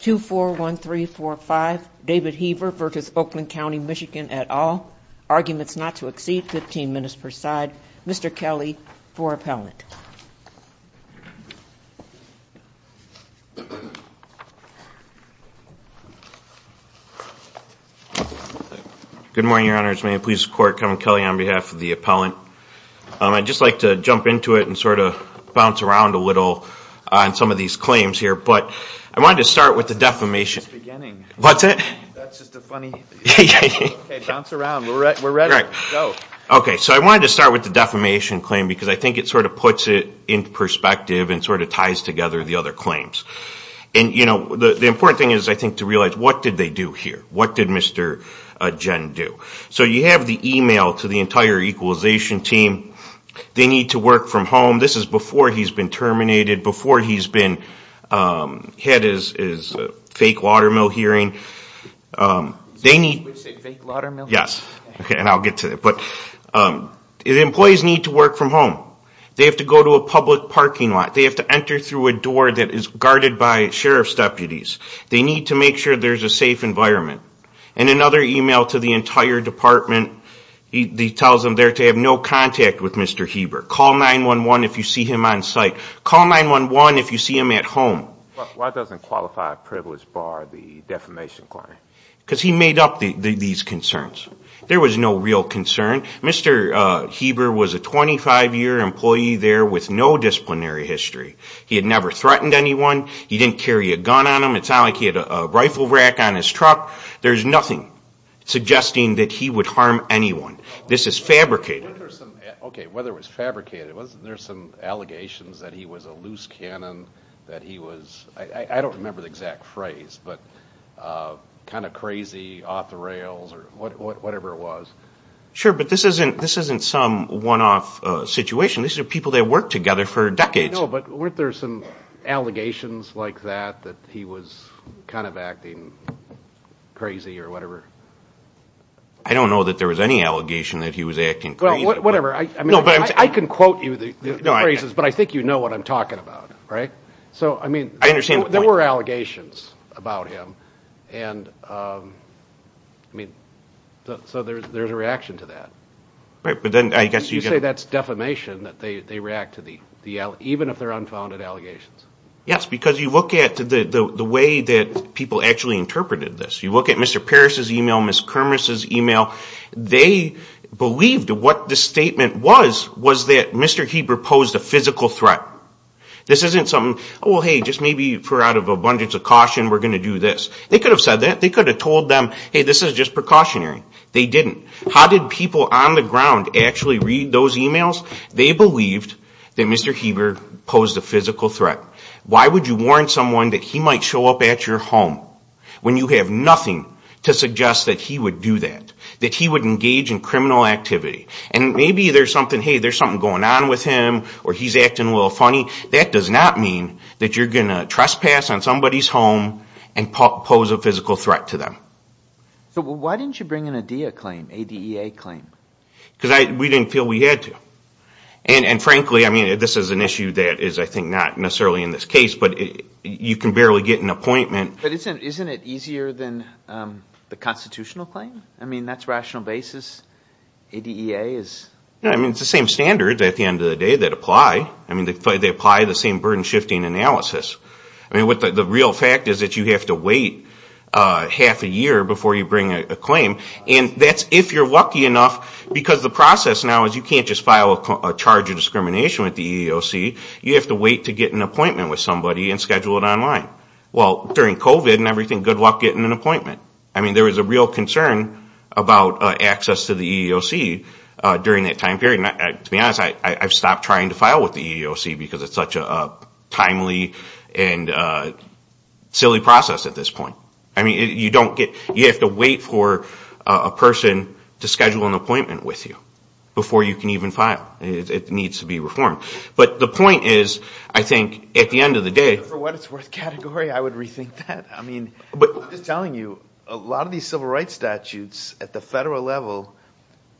2-4-1-3-4-5 David Hieber v. Oakland County, MI et al. Arguments not to exceed 15 minutes per side. Mr. Kelly for appellant. Good morning, Your Honor. It's my pleasure to support Kevin Kelly on behalf of the appellant. I'd just like to jump into it and sort of bounce around a little on some of these claims here. But I wanted to start with the defamation. It's just the beginning. What's that? That's just a funny... Okay, bounce around. We're ready. Go. Okay, so I wanted to start with the defamation claim because I think it sort of puts it in perspective and sort of ties together the other claims. And, you know, the important thing is, I think, to realize what did they do here? What did Mr. Jen do? So you have the e-mail to the entire equalization team. They need to work from home. This is before he's been terminated, before he's had his fake watermill hearing. Did you say fake watermill? Yes, and I'll get to it. But the employees need to work from home. They have to go to a public parking lot. They have to enter through a door that is guarded by sheriff's deputies. They need to make sure there's a safe environment. And another e-mail to the entire department tells them they're to have no contact with Mr. Heber. Call 911 if you see him on site. Call 911 if you see him at home. Why doesn't qualified privilege bar the defamation claim? Because he made up these concerns. There was no real concern. Mr. Heber was a 25-year employee there with no disciplinary history. He had never threatened anyone. He didn't carry a gun on him. It sounded like he had a rifle rack on his truck. There's nothing suggesting that he would harm anyone. This is fabricated. Okay, well, there was fabricated. Wasn't there some allegations that he was a loose cannon, that he was, I don't remember the exact phrase, but kind of crazy, off the rails, or whatever it was? Sure, but this isn't some one-off situation. These are people that worked together for decades. I know, but weren't there some allegations like that, that he was kind of acting crazy or whatever? I don't know that there was any allegation that he was acting crazy. Well, whatever. I can quote you the phrases, but I think you know what I'm talking about, right? So, I mean, there were allegations about him, and, I mean, so there's a reaction to that. You say that's defamation, that they react to the allegations, even if they're unfounded allegations. Yes, because you look at the way that people actually interpreted this. You look at Mr. Parrish's email, Ms. Kermes' email. They believed what the statement was, was that Mr. Heber posed a physical threat. This isn't something, oh, well, hey, just maybe for out of abundance of caution, we're going to do this. They could have said that. They could have told them, hey, this is just precautionary. They didn't. How did people on the ground actually read those emails? They believed that Mr. Heber posed a physical threat. Why would you warn someone that he might show up at your home when you have nothing to suggest that he would do that, that he would engage in criminal activity? And maybe there's something, hey, there's something going on with him, or he's acting a little funny. That does not mean that you're going to trespass on somebody's home and pose a physical threat to them. So why didn't you bring in a DEA claim, A-D-E-A claim? Because we didn't feel we had to. And, frankly, I mean, this is an issue that is, I think, not necessarily in this case, but you can barely get an appointment. But isn't it easier than the constitutional claim? I mean, that's rational basis. A-D-E-A is. I mean, it's the same standards at the end of the day that apply. I mean, they apply the same burden-shifting analysis. I mean, the real fact is that you have to wait half a year before you bring a claim. And that's if you're lucky enough, because the process now is you can't just file a charge of discrimination with the EEOC. You have to wait to get an appointment with somebody and schedule it online. Well, during COVID and everything, good luck getting an appointment. I mean, there was a real concern about access to the EEOC during that time period. To be honest, I've stopped trying to file with the EEOC because it's such a timely and silly process at this point. I mean, you have to wait for a person to schedule an appointment with you before you can even file. It needs to be reformed. But the point is, I think, at the end of the day. For what it's worth category, I would rethink that. I mean, I'm just telling you, a lot of these civil rights statutes at the federal level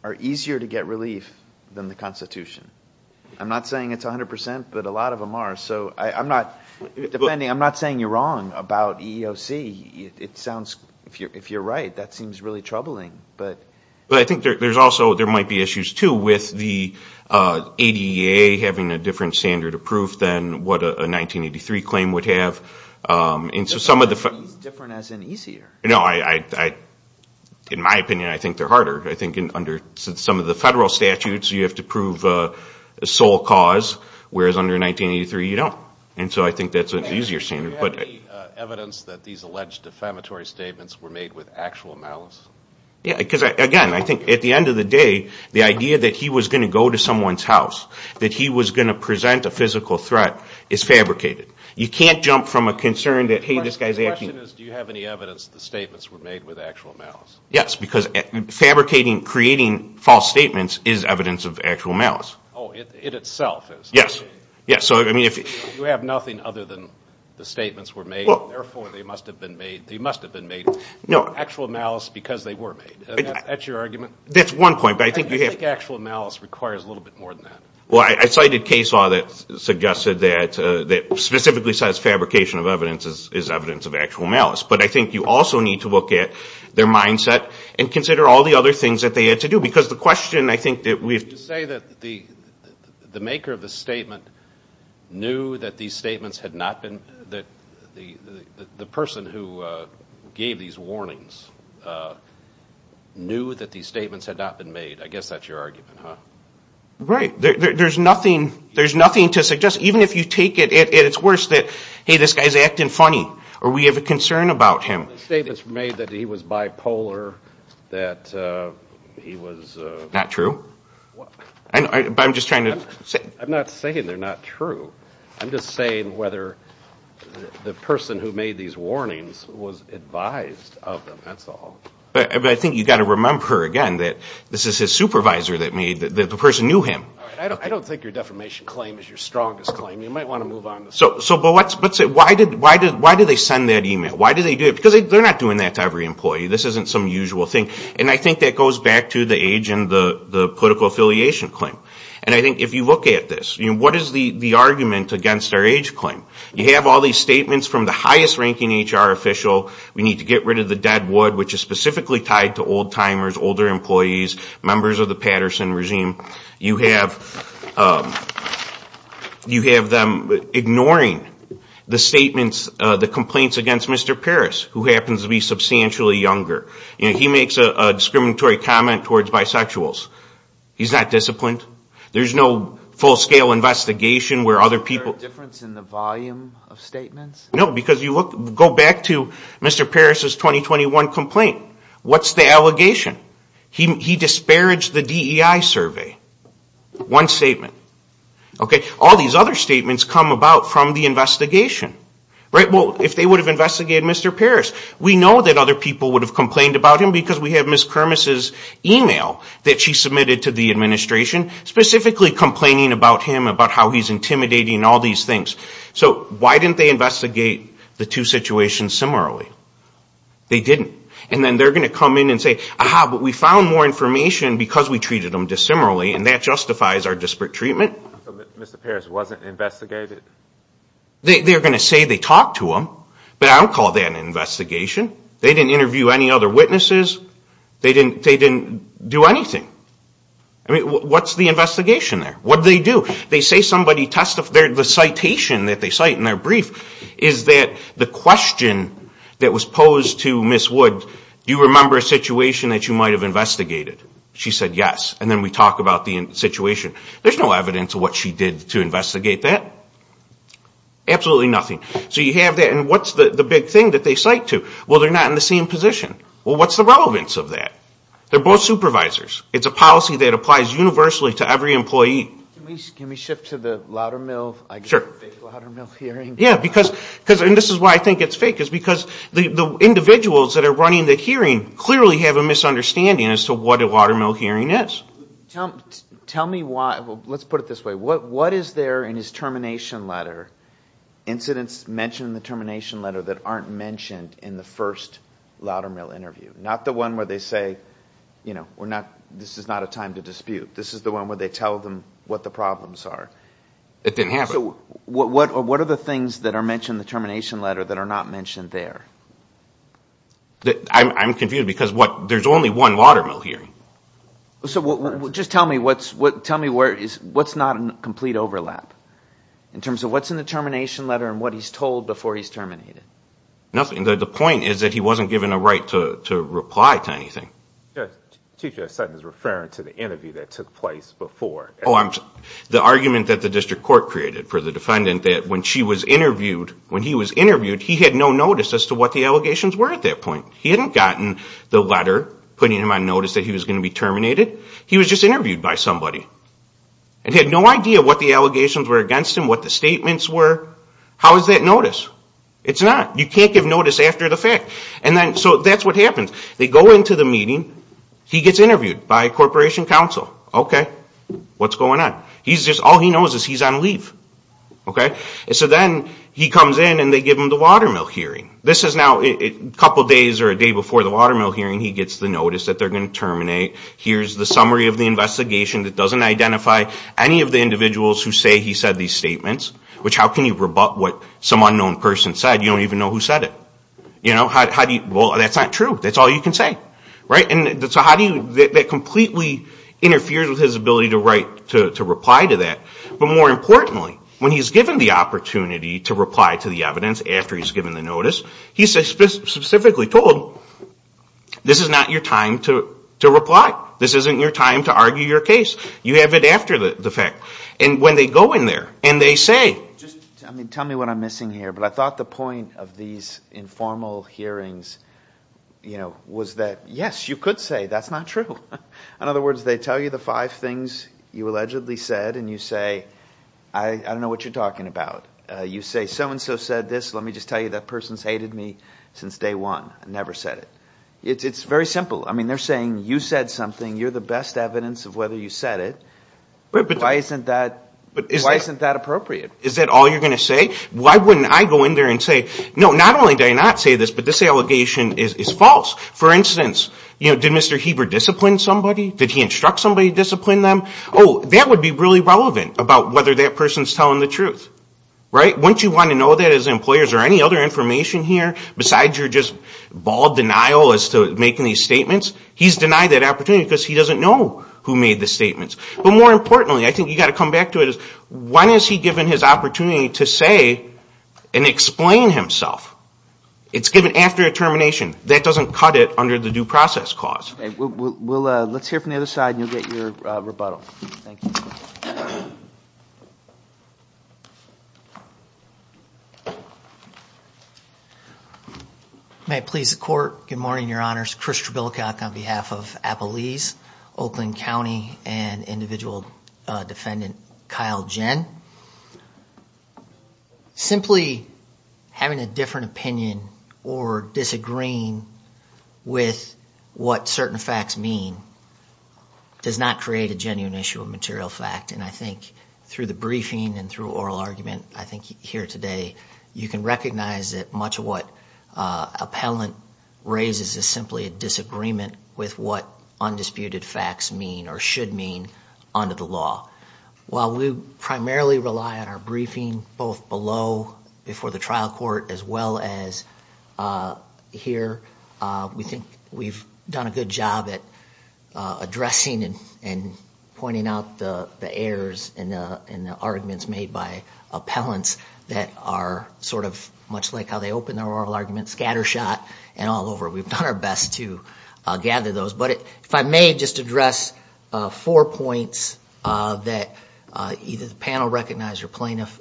are easier to get relief than the Constitution. I'm not saying it's 100%, but a lot of them are. So I'm not saying you're wrong about EEOC. If you're right, that seems really troubling. But I think there might be issues, too, with the ADA having a different standard of proof than what a 1983 claim would have. Different as in easier? No. In my opinion, I think they're harder. I think under some of the federal statutes, you have to prove sole cause, whereas under 1983, you don't. And so I think that's an easier standard. Do you have any evidence that these alleged defamatory statements were made with actual malice? Yeah, because, again, I think at the end of the day, the idea that he was going to go to someone's house, that he was going to present a physical threat, is fabricated. You can't jump from a concern that, hey, this guy's acting. The question is, do you have any evidence the statements were made with actual malice? Yes, because fabricating, creating false statements is evidence of actual malice. Oh, it itself is. Yes. You have nothing other than the statements were made, therefore they must have been made with actual malice because they were made. That's your argument? That's one point. I think actual malice requires a little bit more than that. Well, I cited case law that suggested that specifically says fabrication of evidence is evidence of actual malice. But I think you also need to look at their mindset and consider all the other things that they had to do. Because the question, I think that we have to say that the maker of the statement knew that these statements had not been, that the person who gave these warnings knew that these statements had not been made. I guess that's your argument, huh? Right. There's nothing to suggest, even if you take it at its worst, that, hey, this guy's acting funny. Or we have a concern about him. The statement's made that he was bipolar, that he was... Not true. I'm just trying to... I'm not saying they're not true. I'm just saying whether the person who made these warnings was advised of them. That's all. But I think you've got to remember, again, that this is his supervisor that made, that the person knew him. I don't think your defamation claim is your strongest claim. You might want to move on. Why did they send that email? Why did they do it? Because they're not doing that to every employee. This isn't some usual thing. And I think that goes back to the age and the political affiliation claim. And I think if you look at this, what is the argument against our age claim? You have all these statements from the highest-ranking HR official. We need to get rid of the dead wood, which is specifically tied to old-timers, older employees, members of the Patterson regime. You have them ignoring the statements, the complaints against Mr. Parris, who happens to be substantially younger. He makes a discriminatory comment towards bisexuals. He's not disciplined. There's no full-scale investigation where other people... Is there a difference in the volume of statements? No, because you go back to Mr. Parris' 2021 complaint. What's the allegation? He disparaged the DEI survey. One statement. All these other statements come about from the investigation. Well, if they would have investigated Mr. Parris, we know that other people would have complained about him, because we have Ms. Kermes' email that she submitted to the administration, specifically complaining about him, about how he's intimidating, all these things. So why didn't they investigate the two situations similarly? They didn't. And then they're going to come in and say, ah-ha, but we found more information because we treated him dissimilarly, and that justifies our disparate treatment. So Mr. Parris wasn't investigated? They're going to say they talked to him, but I don't call that an investigation. They didn't interview any other witnesses. They didn't do anything. I mean, what's the investigation there? What did they do? They say somebody testified... Do you remember a situation that you might have investigated? She said yes. And then we talk about the situation. There's no evidence of what she did to investigate that. Absolutely nothing. So you have that. And what's the big thing that they cite to? Well, they're not in the same position. Well, what's the relevance of that? They're both supervisors. It's a policy that applies universally to every employee. Can we shift to the Loudermill hearing? Yeah, because, and this is why I think it's fake, is because the individuals that are running the hearing clearly have a misunderstanding as to what a Loudermill hearing is. Tell me why... Well, let's put it this way. What is there in his termination letter, incidents mentioned in the termination letter that aren't mentioned in the first Loudermill interview? Not the one where they say, you know, this is not a time to dispute. This is the one where they tell them what the problems are. It didn't happen. So what are the things that are mentioned in the termination letter that are not mentioned there? I'm confused because there's only one Loudermill hearing. So just tell me what's not in complete overlap in terms of what's in the termination letter and what he's told before he's terminated. Nothing. The point is that he wasn't given a right to reply to anything. Chief Justice Sutton is referring to the interview that took place before. Oh, I'm sorry. The argument that the district court created for the defendant that when she was interviewed, when he was interviewed, he had no notice as to what the allegations were at that point. He hadn't gotten the letter putting him on notice that he was going to be terminated. He was just interviewed by somebody and had no idea what the allegations were against him, what the statements were. How is that notice? It's not. You can't give notice after the fact. So that's what happens. They go into the meeting. He gets interviewed by Corporation Counsel. Okay. What's going on? All he knows is he's on leave. So then he comes in and they give him the watermill hearing. This is now a couple days or a day before the watermill hearing. He gets the notice that they're going to terminate. Here's the summary of the investigation that doesn't identify any of the individuals who say he said these statements, which how can you rebut what some unknown person said? You don't even know who said it. Well, that's not true. That's all you can say. That completely interferes with his ability to reply to that. But more importantly, when he's given the opportunity to reply to the evidence after he's given the notice, he's specifically told, this is not your time to reply. This isn't your time to argue your case. You have it after the fact. And when they go in there and they say. Tell me what I'm missing here, but I thought the point of these informal hearings was that, yes, you could say that's not true. In other words, they tell you the five things you allegedly said, and you say, I don't know what you're talking about. You say so-and-so said this. Let me just tell you that person's hated me since day one. I never said it. It's very simple. I mean, they're saying you said something. You're the best evidence of whether you said it. But why isn't that appropriate? Is that all you're going to say? Why wouldn't I go in there and say, no, not only did I not say this, but this allegation is false. For instance, did Mr. Heber discipline somebody? Did he instruct somebody to discipline them? Oh, that would be really relevant about whether that person's telling the truth. Wouldn't you want to know that as employers? Is there any other information here besides your just bald denial as to making these statements? He's denied that opportunity because he doesn't know who made the statements. But more importantly, I think you've got to come back to it. When has he given his opportunity to say and explain himself? It's given after a termination. That doesn't cut it under the due process clause. Let's hear from the other side and you'll get your rebuttal. Thank you. May it please the Court. Good morning, Your Honors. Chris Trebillacock on behalf of Appalese, Oakland County, and individual defendant Kyle Jen. Simply having a different opinion or disagreeing with what certain facts mean does not create a genuine issue of material fact. And I think through the briefing and through oral argument I think here today, you can recognize that much of what appellant raises is simply a disagreement with what undisputed facts mean or should mean under the law. While we primarily rely on our briefing both below, before the trial court, as well as here, we think we've done a good job at addressing and pointing out the errors in the arguments made by appellants that are sort of much like how they open their oral arguments, scattershot and all over. We've done our best to gather those. But if I may just address four points that either the panel recognized or plaintiff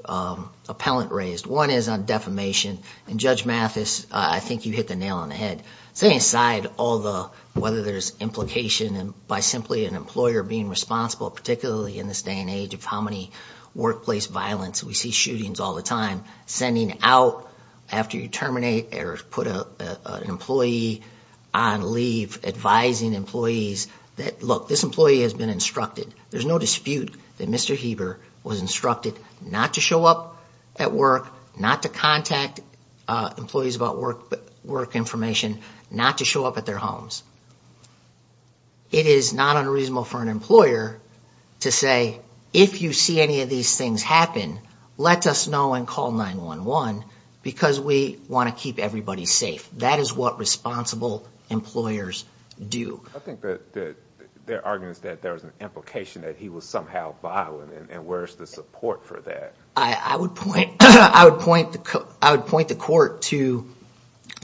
appellant raised. One is on defamation. And Judge Mathis, I think you hit the nail on the head. Setting aside all the, whether there's implication by simply an employer being responsible, particularly in this day and age of how many workplace violence, we see shootings all the time, sending out after you terminate or put an employee on leave, advising employees that, look, this employee has been instructed. There's no dispute that Mr. Heber was instructed not to show up at work, not to contact employees about work information, not to show up at their homes. It is not unreasonable for an employer to say, if you see any of these things happen, let us know and call 911 because we want to keep everybody safe. That is what responsible employers do. I think that their argument is that there was an implication that he was somehow violent. And where's the support for that? I would point the court to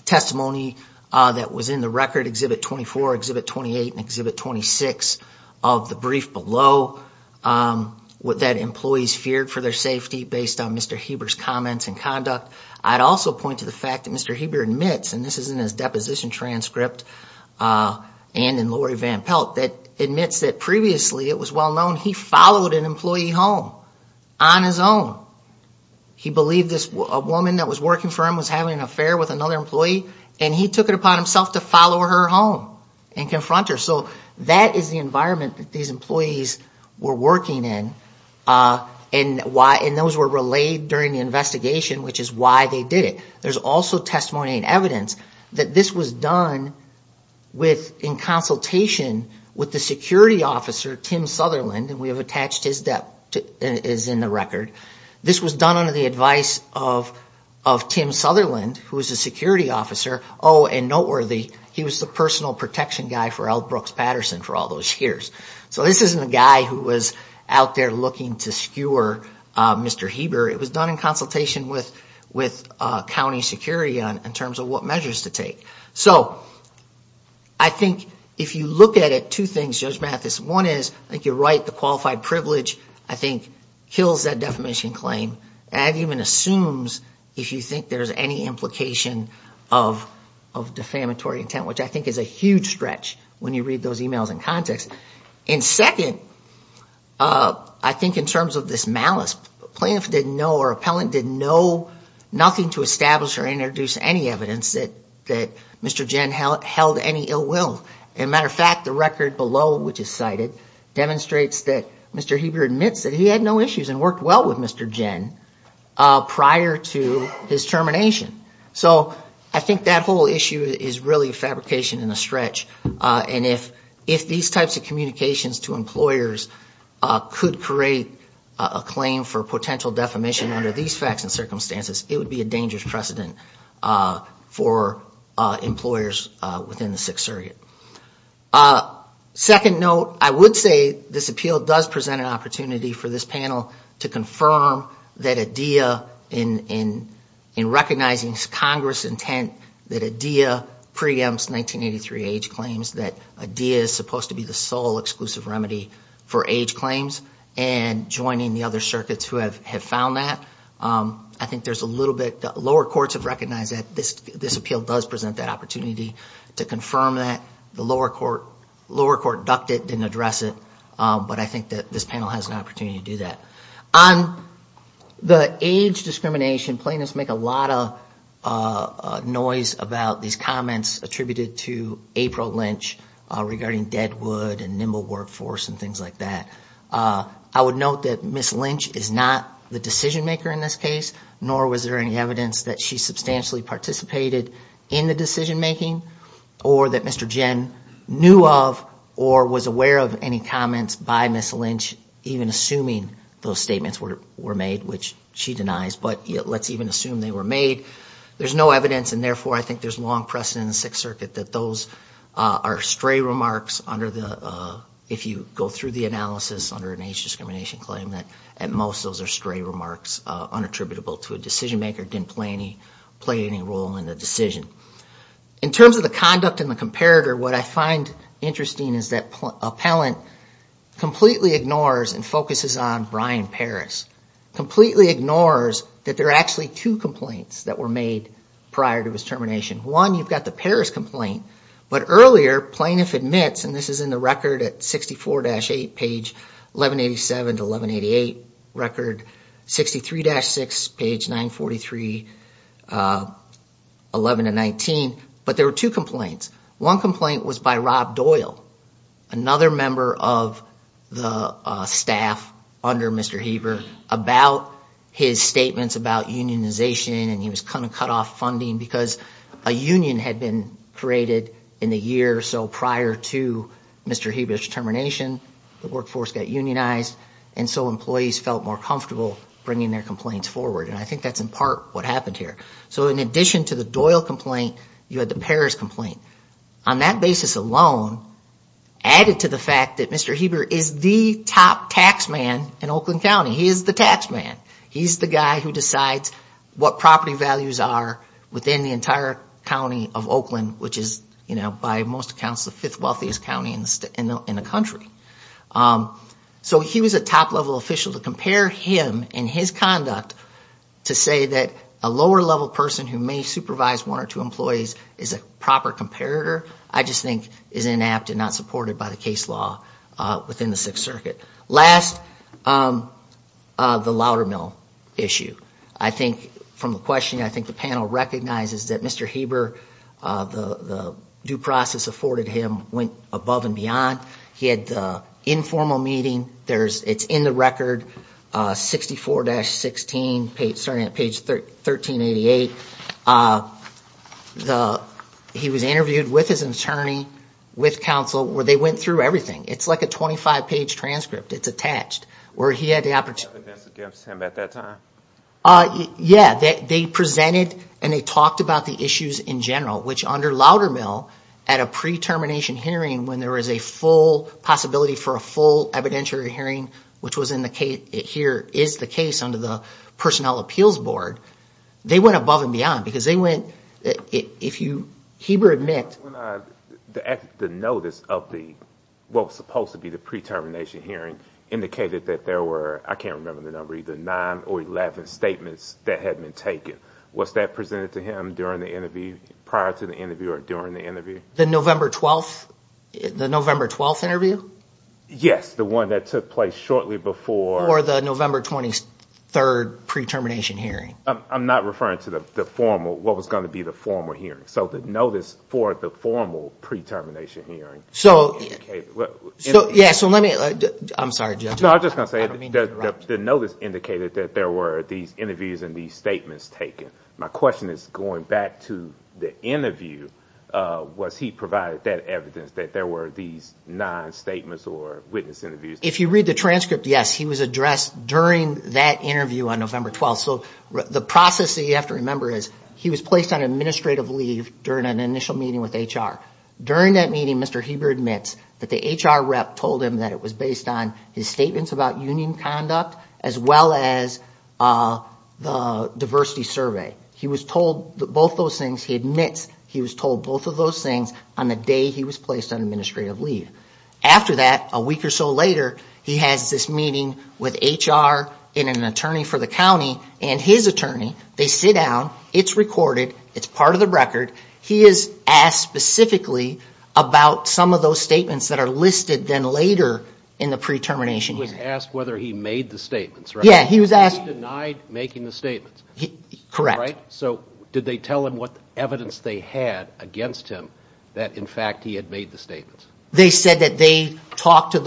testimony that was in the record, Exhibit 24, Exhibit 28, and Exhibit 26 of the brief below, that employees feared for their safety based on Mr. Heber's comments and conduct. I'd also point to the fact that Mr. Heber admits, and this is in his deposition transcript and in Lori Van Pelt, that admits that previously, it was well known, he followed an employee home on his own. He believed this woman that was working for him was having an affair with another employee, and he took it upon himself to follow her home and confront her. So that is the environment that these employees were working in, and those were relayed during the investigation, which is why they did it. There's also testimony and evidence that this was done in consultation with the security officer, Tim Sutherland, and we have attached his name in the record. This was done under the advice of Tim Sutherland, who was a security officer. Oh, and noteworthy, he was the personal protection guy for L. Brooks Patterson for all those years. So this isn't a guy who was out there looking to skewer Mr. Heber. It was done in consultation with county security in terms of what measures to take. So I think if you look at it, two things, Judge Mathis. One is, I think you're right, the qualified privilege, I think, kills that defamation claim and even assumes if you think there's any implication of defamatory intent, which I think is a huge stretch when you read those emails in context. And second, I think in terms of this malice, plaintiff didn't know or appellant didn't know nothing to establish or introduce any evidence that Mr. Jen held any ill will. As a matter of fact, the record below, which is cited, demonstrates that Mr. Heber admits that he had no issues and worked well with Mr. Jen prior to his termination. So I think that whole issue is really a fabrication and a stretch. And if these types of communications to employers could create a claim for potential defamation under these facts and circumstances, it would be a dangerous precedent for employers within the Sixth Circuit. Second note, I would say this appeal does present an opportunity for this panel to confirm that IDEA, in recognizing Congress' intent that IDEA preempts 1983 age claims, that IDEA is supposed to be the sole exclusive remedy for age claims, and joining the other circuits who have found that. Lower courts have recognized that this appeal does present that opportunity to confirm that. The lower court ducked it, didn't address it, but I think that this panel has an opportunity to do that. On the age discrimination, plaintiffs make a lot of noise about these comments attributed to April Lynch regarding Deadwood and Nimble Workforce and things like that. I would note that Ms. Lynch is not the decision-maker in this case, nor was there any evidence that she substantially participated in the decision-making, or that Mr. Jen knew of or was aware of any comments by Ms. Lynch, even assuming those statements were made, which she denies, but let's even assume they were made. There's no evidence, and therefore I think there's long precedent in the Sixth Circuit that those are stray remarks under the, if you go through the analysis under an age discrimination claim, that at most those are stray remarks, unattributable to a decision-maker, didn't play any role in the decision. In terms of the conduct and the comparator, what I find interesting is that appellant completely ignores the and focuses on Brian Parris, completely ignores that there are actually two complaints that were made prior to his termination. One, you've got the Parris complaint, but earlier, plaintiff admits, and this is in the record at 64-8, page 1187 to 1188, record 63-6, page 943, 11 to 19, but there were two complaints. One complaint was by Rob Doyle, another member of the staff under Mr. Heber, about his statements about unionization, and he was kind of cut off funding, because a union had been created in the year or so prior to Mr. Heber's termination. The workforce got unionized, and so employees felt more comfortable bringing their complaints forward, and I think that's in part what happened here. On that basis alone, added to the fact that Mr. Heber is the top tax man in Oakland County. He is the tax man. He's the guy who decides what property values are within the entire county of Oakland, which is, by most accounts, the fifth wealthiest county in the country. So he was a top-level official. To compare him and his conduct to say that a lower-level person who may supervise one or two employees is a proper comparator, I just think is inapt and not supported by the case law within the Sixth Circuit. Last, the Loudermill issue. From the question, I think the panel recognizes that Mr. Heber, the due process afforded him, went above and beyond. He had the informal meeting. It's in the record, 64-16, starting at page 1388. He was interviewed with his attorney, with counsel, where they went through everything. It's like a 25-page transcript. It's attached, where he had the opportunity... Yeah, they presented and they talked about the issues in general, which under Loudermill, at a pre-termination hearing, when there was a full possibility for a full evidentiary hearing, which here is the case under the Personnel Appeals Board, they went above and beyond. Because they went... The notice of what was supposed to be the pre-termination hearing indicated that there were, I can't remember the number, either 9 or 11 statements that had been taken. Was that presented to him prior to the interview or during the interview? The November 12th interview? Yes, the one that took place shortly before... Before the November 23rd pre-termination hearing. I'm not referring to what was going to be the formal hearing. The notice for the formal pre-termination hearing indicated... I'm sorry, Judge. I don't mean to interrupt. The notice indicated that there were these interviews and these statements taken. My question is, going back to the interview, was he provided that evidence that there were these 9 statements or witness interviews? If you read the transcript, yes, he was addressed during that interview on November 12th. The process that you have to remember is he was placed on administrative leave during an initial meeting with HR. During that meeting, Mr. Heber admits that the HR rep told him that it was based on his statements about union conduct, as well as the diversity survey. He admits he was told both of those things on the day he was placed on administrative leave. After that, a week or so later, he has this meeting with HR and an attorney for the county, and his attorney, they sit down, it's recorded, it's part of the record. He is asked specifically about some of those statements that are listed then later in the pre-termination hearing. He was asked whether he made the statements, right? Correct. So did they tell him what evidence they had against him that, in fact, he had made the statements? They said that they talked to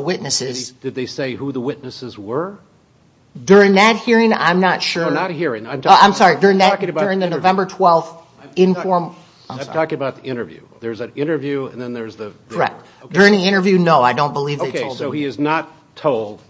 witnesses. Did they say who the witnesses were? During that hearing, I'm not sure. No, not a hearing. I'm talking about the interview. During the interview, no, I don't believe they told him. Okay, so he is not told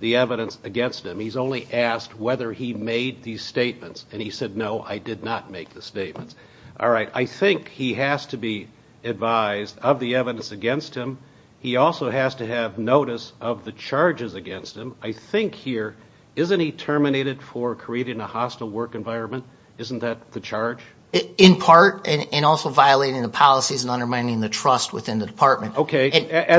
the evidence against him. He's only asked whether he made these statements, and he said, no, I did not make the statements. All right, I think he has to be advised of the evidence against him. He also has to have notice of the charges against him. I think here, isn't he terminated for creating a hostile work environment? Isn't that the charge? Okay, at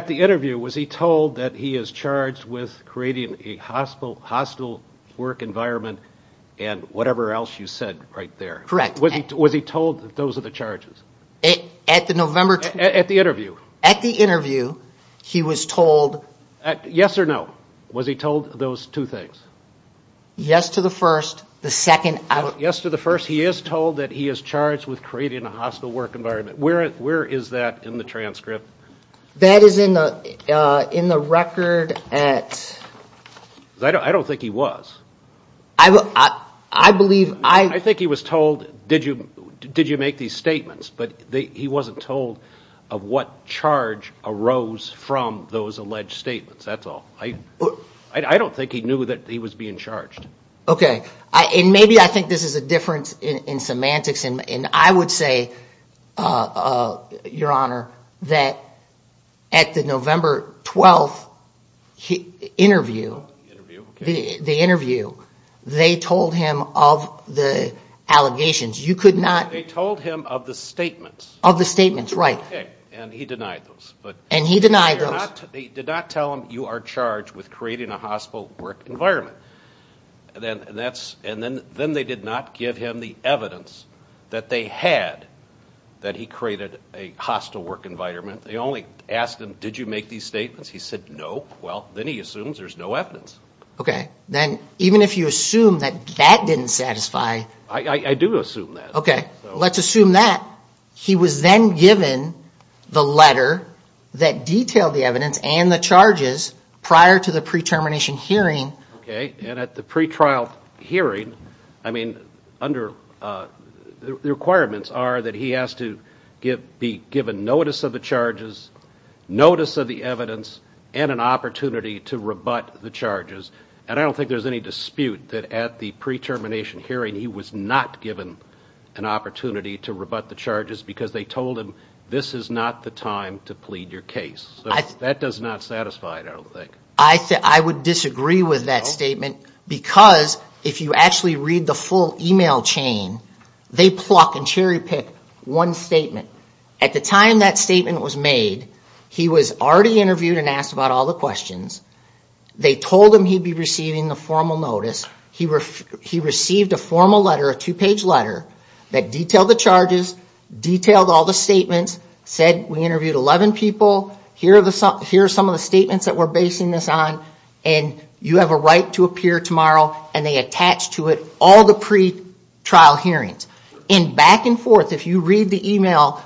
the interview, was he told that he is charged with creating a hostile work environment and whatever else you said right there? Correct. Was he told those are the charges? At the interview. At the interview, he was told... Yes or no, was he told those two things? Yes to the first, the second... Yes to the first, he is told that he is charged with creating a hostile work environment. Where is that in the transcript? That is in the record at... I don't think he was. I think he was told, did you make these statements? But he wasn't told of what charge arose from those alleged statements, that's all. I don't think he knew that he was being charged. Okay, and maybe I think this is a difference in semantics, and I would say, Your Honor, that at the November 12th interview, the interview, they told him of the allegations. They told him of the statements. And he denied those. He did not tell him you are charged with creating a hostile work environment. And then they did not give him the evidence that they had that he created a hostile work environment. They only asked him, did you make these statements? He said no, well, then he assumes there is no evidence. Okay, then even if you assume that that didn't satisfy... I do assume that. Okay, let's assume that. He was then given the letter that detailed the evidence and the charges prior to the pre-termination hearing. Okay, and at the pre-trial hearing, I mean, under... The requirements are that he has to be given notice of the charges, notice of the evidence, and an opportunity to rebut the charges. And I don't think there's any dispute that at the pre-termination hearing he was not given an opportunity to rebut the charges because they told him this is not the time to plead your case. So that does not satisfy it, I don't think. I would disagree with that statement, because if you actually read the full email chain, they pluck and cherry pick one statement. At the time that statement was made, he was already interviewed and asked about all the questions. They told him he'd be receiving the formal notice. He received a formal letter, a two-page letter, that detailed the charges, detailed all the statements, said we interviewed 11 people. Here are some of the statements that we're basing this on, and you have a right to appear tomorrow. And they attached to it all the pre-trial hearings. And back and forth, if you read the email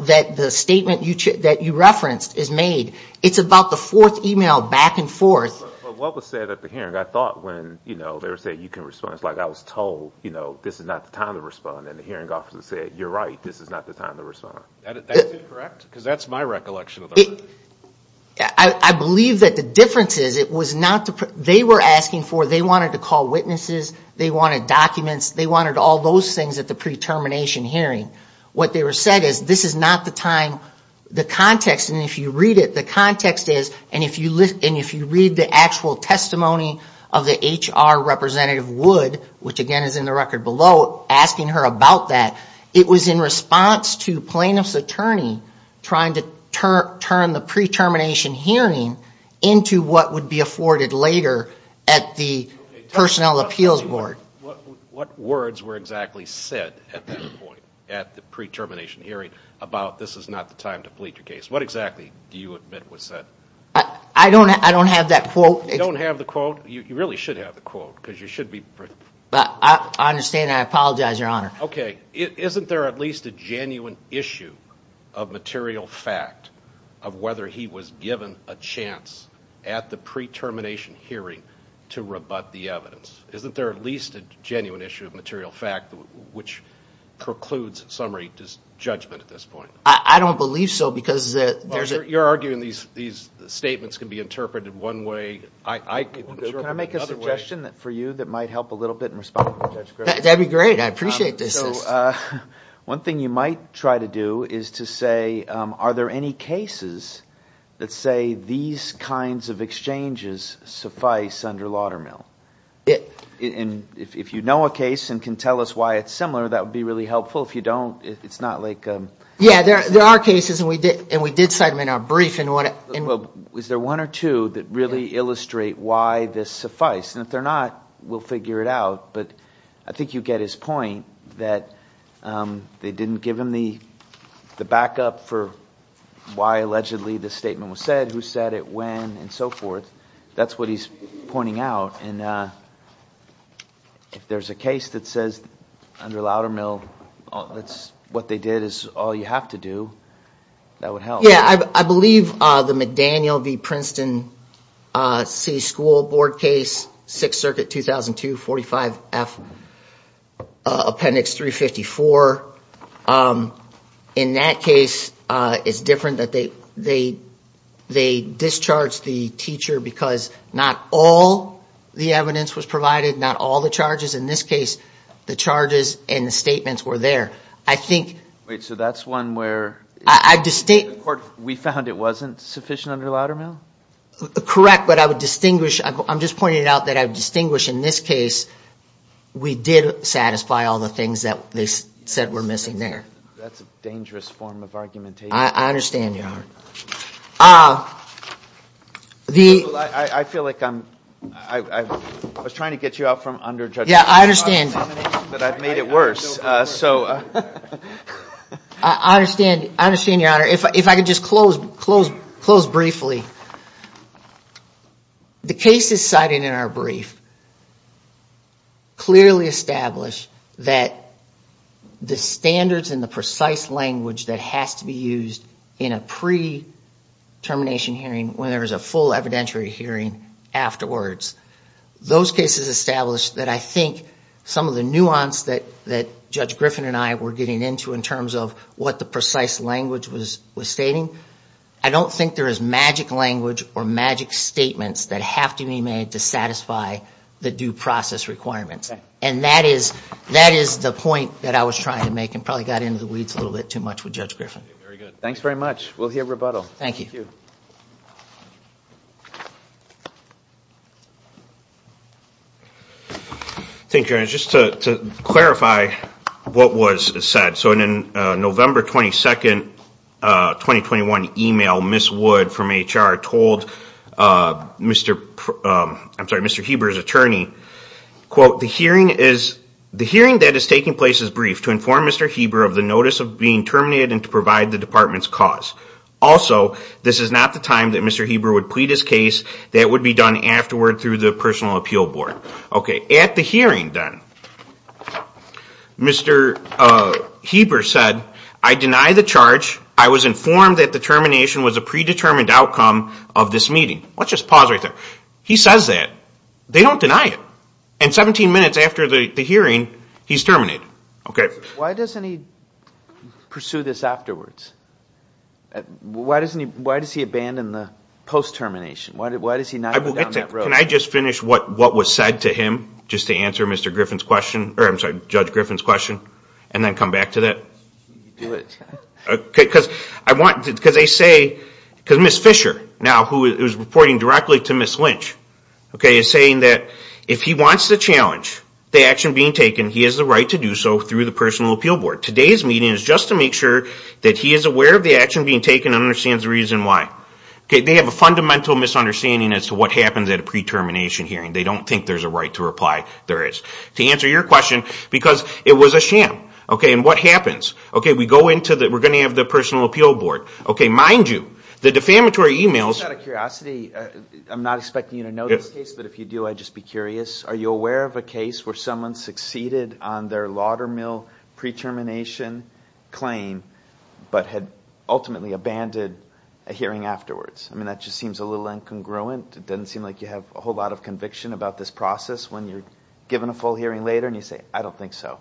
that the statement that you referenced is made, it's about the fourth email back and forth. But what was said at the hearing, I thought when they were saying you can respond, it's like I was told this is not the time to respond. And the hearing officer said you're right, this is not the time to respond. That's incorrect? Because that's my recollection. I believe that the difference is it was not the, they were asking for, they wanted to call witnesses, they wanted documents, they wanted all those things at the pre-termination hearing. What they were saying is this is not the time, the context, and if you read it, the context is, and if you read the actual testimony of the HR representative Wood, which again is in the record below, asking her about that, it was in response to plain-and-simple questions. It was a defense attorney trying to turn the pre-termination hearing into what would be afforded later at the personnel appeals board. What words were exactly said at that point, at the pre-termination hearing, about this is not the time to plead your case? What exactly do you admit was said? I don't have that quote. You don't have the quote? You really should have the quote. I understand and I apologize, Your Honor. Okay, isn't there at least a genuine issue of material fact of whether he was given a chance at the pre-termination hearing to rebut the evidence? Isn't there at least a genuine issue of material fact which precludes summary judgment at this point? I don't believe so because there's a... You're arguing these statements can be interpreted one way. Can I make a suggestion for you that might help a little bit in responding to Judge Griffin? That would be great. I appreciate this. One thing you might try to do is to say, are there any cases that say these kinds of exchanges suffice under Laudermill? There are cases and we did cite them in our brief. Is there one or two that really illustrate why this suffice? And if they're not, we'll figure it out. But I think you get his point that they didn't give him the backup for why allegedly the statement was said, who said it, when, and so forth. That's what he's pointing out. And if there's a case that says under Laudermill, what they did is all you have to do, that would help. Yeah, I believe the McDaniel v. Princeton City School Board case, 6th Circuit, 2002, 45F, Appendix 354. In that case, it's different that they discharged the teacher because not all of the teachers in that case had a backup. The evidence was provided, not all the charges. In this case, the charges and the statements were there. Wait, so that's one where we found it wasn't sufficient under Laudermill? Correct, but I'm just pointing out that I would distinguish in this case, we did satisfy all the things that they said were missing there. That's a dangerous form of argumentation. I understand, Your Honor. I feel like I'm, I was trying to get you out from underjudgment. Yeah, I understand. But I've made it worse. I understand, Your Honor. If I could just close briefly. The cases cited in our brief clearly establish that the standards and the precise language that has to be used in a pre-termination hearing when there is a full evidentiary hearing afterwards. Those cases establish that I think some of the nuance that Judge Griffin and I were getting into in terms of what the precise language was stating, I don't think there is magic language or magic statements that have to be made to satisfy the due process requirements. And that is the point that I was trying to make and probably got into the weeds a little bit too much with Judge Griffin. Very good. Thanks very much. We'll hear rebuttal. Thank you, Your Honor. Just to clarify what was said. So in a November 22, 2021 email, Ms. Wood from HR told Mr. Heber's attorney, quote, the hearing that is taking place is brief to inform Mr. Heber of the notice of being terminated and to provide the department's cause. Also, this is not the time that Mr. Heber would plead his case. That would be done afterward through the personal appeal board. Okay. At the hearing then, Mr. Heber said, I deny the charge. I was informed that the termination was a predetermined outcome of this meeting. Let's just pause right there. He says that. They don't deny it. And 17 minutes after the hearing, he's terminated. Why doesn't he pursue this afterwards? Why does he abandon the post-termination? Can I just finish what was said to him just to answer Judge Griffin's question and then come back to that? Because they say, because Ms. Fisher, now who is reporting directly to Ms. Lynch, is saying that if he wants the challenge, the action being taken, he has the right to do so through the personal appeal board. Today's meeting is just to make sure that he is aware of the action being taken and understands the reason why. They have a fundamental misunderstanding as to what happens at a pre-termination hearing. They don't think there's a right to reply. There is. To answer your question, because it was a sham. And what happens? We're going to have the personal appeal board. Mind you, the defamatory emails... I'm just out of curiosity. I'm not expecting you to know this case, but if you do, I'd just be curious. Are you aware of a case where someone succeeded on their Laudermill pre-termination claim, but had ultimately abandoned a hearing afterwards? That just seems a little incongruent. It doesn't seem like you have a whole lot of conviction about this process. When you're given a full hearing later and you say, I don't think so.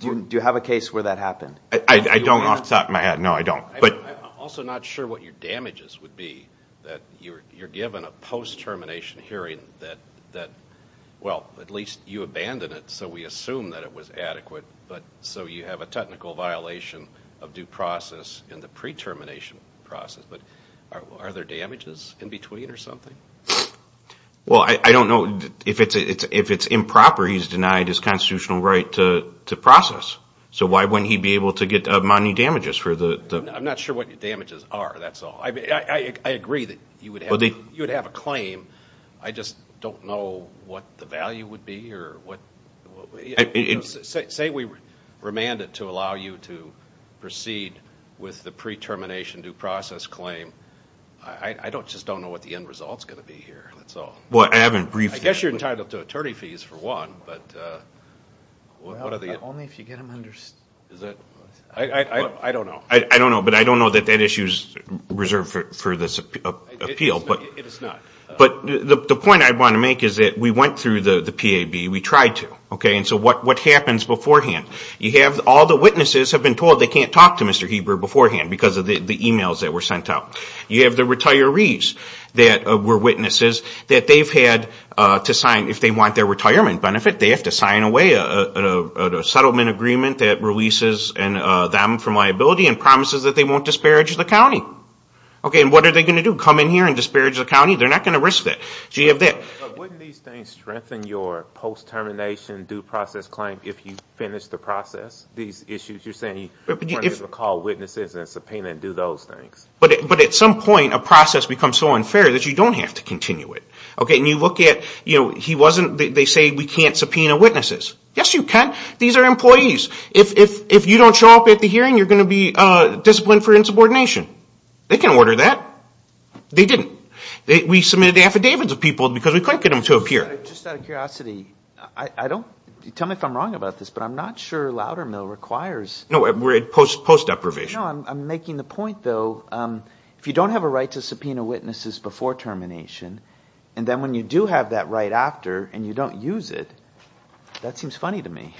Do you have a case where that happened? I don't off the top of my head. No, I don't. I'm also not sure what your damages would be, that you're given a post-termination hearing that, well, at least you abandoned it, so we assume that it was adequate. So you have a technical violation of due process in the pre-termination process. But are there damages in between or something? Well, I don't know. If it's improper, he's denied his constitutional right to process. So why wouldn't he be able to get money damages for the... I'm not sure what your damages are, that's all. I agree that you would have a claim. I just don't know what the value would be or what... Say we remand it to allow you to proceed with the pre-termination due process claim. I just don't know what the end result's going to be here, that's all. I guess you're entitled to attorney fees for one, but what are the... Only if you get them under... I don't know. I don't know, but I don't know that that issue's reserved for this appeal. It is not. But the point I want to make is that we went through the PAB, we tried to. And so what happens beforehand? You have all the witnesses have been told they can't talk to Mr. Heber beforehand because of the emails that were sent out. You have the retirees that were witnesses that they've had to sign, if they want their retirement benefit, they have to sign away a settlement agreement that releases them from liability and promises that they won't disparage the county. Okay, and what are they going to do? Come in here and disparage the county? They're not going to risk that. So you have that. But wouldn't these things strengthen your post-termination due process claim if you finish the process? These issues you're saying attorneys will call witnesses and subpoena and do those things. But at some point a process becomes so unfair that you don't have to continue it. Okay, and you look at, you know, he wasn't, they say we can't subpoena witnesses. Yes, you can. These are employees. If you don't show up at the hearing, you're going to be disciplined for insubordination. They can order that. They didn't. We submitted affidavits of people because we couldn't get them to appear. Just out of curiosity, I don't, tell me if I'm wrong about this, but I'm not sure Loudermill requires No, we're at post-deprivation. I'm making the point, though, if you don't have a right to subpoena witnesses before termination, and then when you do have that right after and you don't use it, that seems funny to me.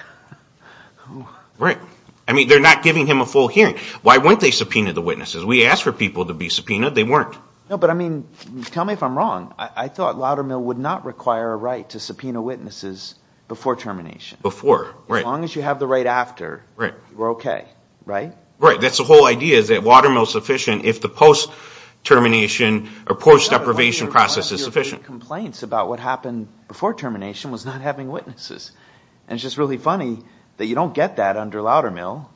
Right. I mean, they're not giving him a full hearing. Why wouldn't they subpoena the witnesses? We asked for people to be subpoenaed. They weren't. No, but I mean, tell me if I'm wrong. I thought Loudermill would not require a right to subpoena witnesses before termination. As long as you have the right after, we're okay, right? Right. That's the whole idea, is that Loudermill is sufficient if the post-termination or post-deprivation process is sufficient. One of your complaints about what happened before termination was not having witnesses. And it's just really funny that you don't get that under Loudermill.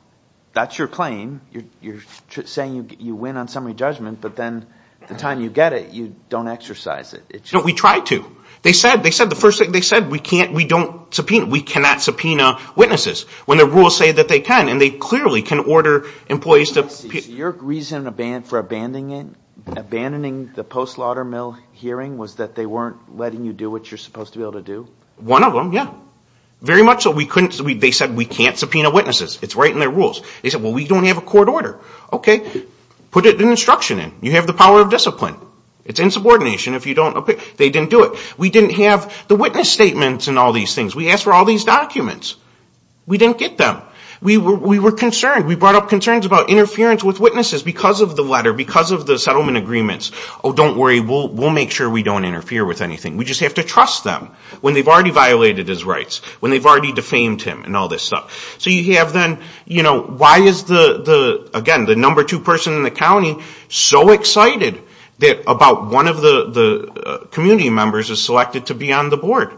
That's your claim. You're saying you win on summary judgment, but then the time you get it, you don't exercise it. We try to. They said, the first thing they said, we can't, we don't subpoena. We cannot subpoena witnesses when the rules say that they can, and they clearly can order employees to... Your reason for abandoning the post-Loudermill hearing was that they weren't letting you do what you're supposed to be able to do? One of them, yeah. Very much so. They said we can't subpoena witnesses. It's right in their rules. They said, well, we don't have a court order. Okay. Put an instruction in. You have the power of discipline. It's insubordination if you don't... They didn't do it. We didn't have the witness statements and all these things. We asked for all these documents. We didn't get them. We were concerned. We brought up concerns about interference with witnesses because of the letter, because of the settlement agreements. Oh, don't worry, we'll make sure we don't interfere with anything. We just have to trust them when they've already violated his rights, when they've already defamed him and all this stuff. So you have then, why is the, again, the number two person in the county so excited that about one of the community members is selected to be on the board?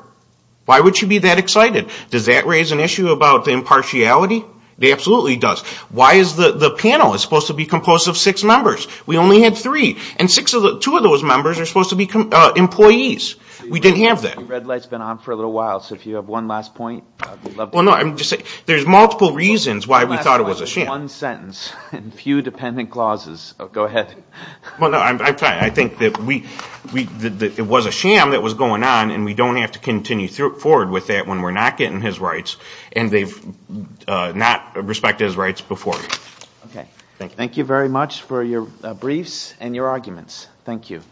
Why would she be that excited? Does that raise an issue about impartiality? It absolutely does. Why is the panel supposed to be composed of six members? We only had three. And two of those members are supposed to be employees. We didn't have that. The red light's been on for a little while, so if you have one last point... There's multiple reasons why we thought it was a sham. I think that it was a sham that was going on and we don't have to continue forward with that when we're not getting his rights and they've not respected his rights before. Thank you very much for your briefs and your arguments. Thank you.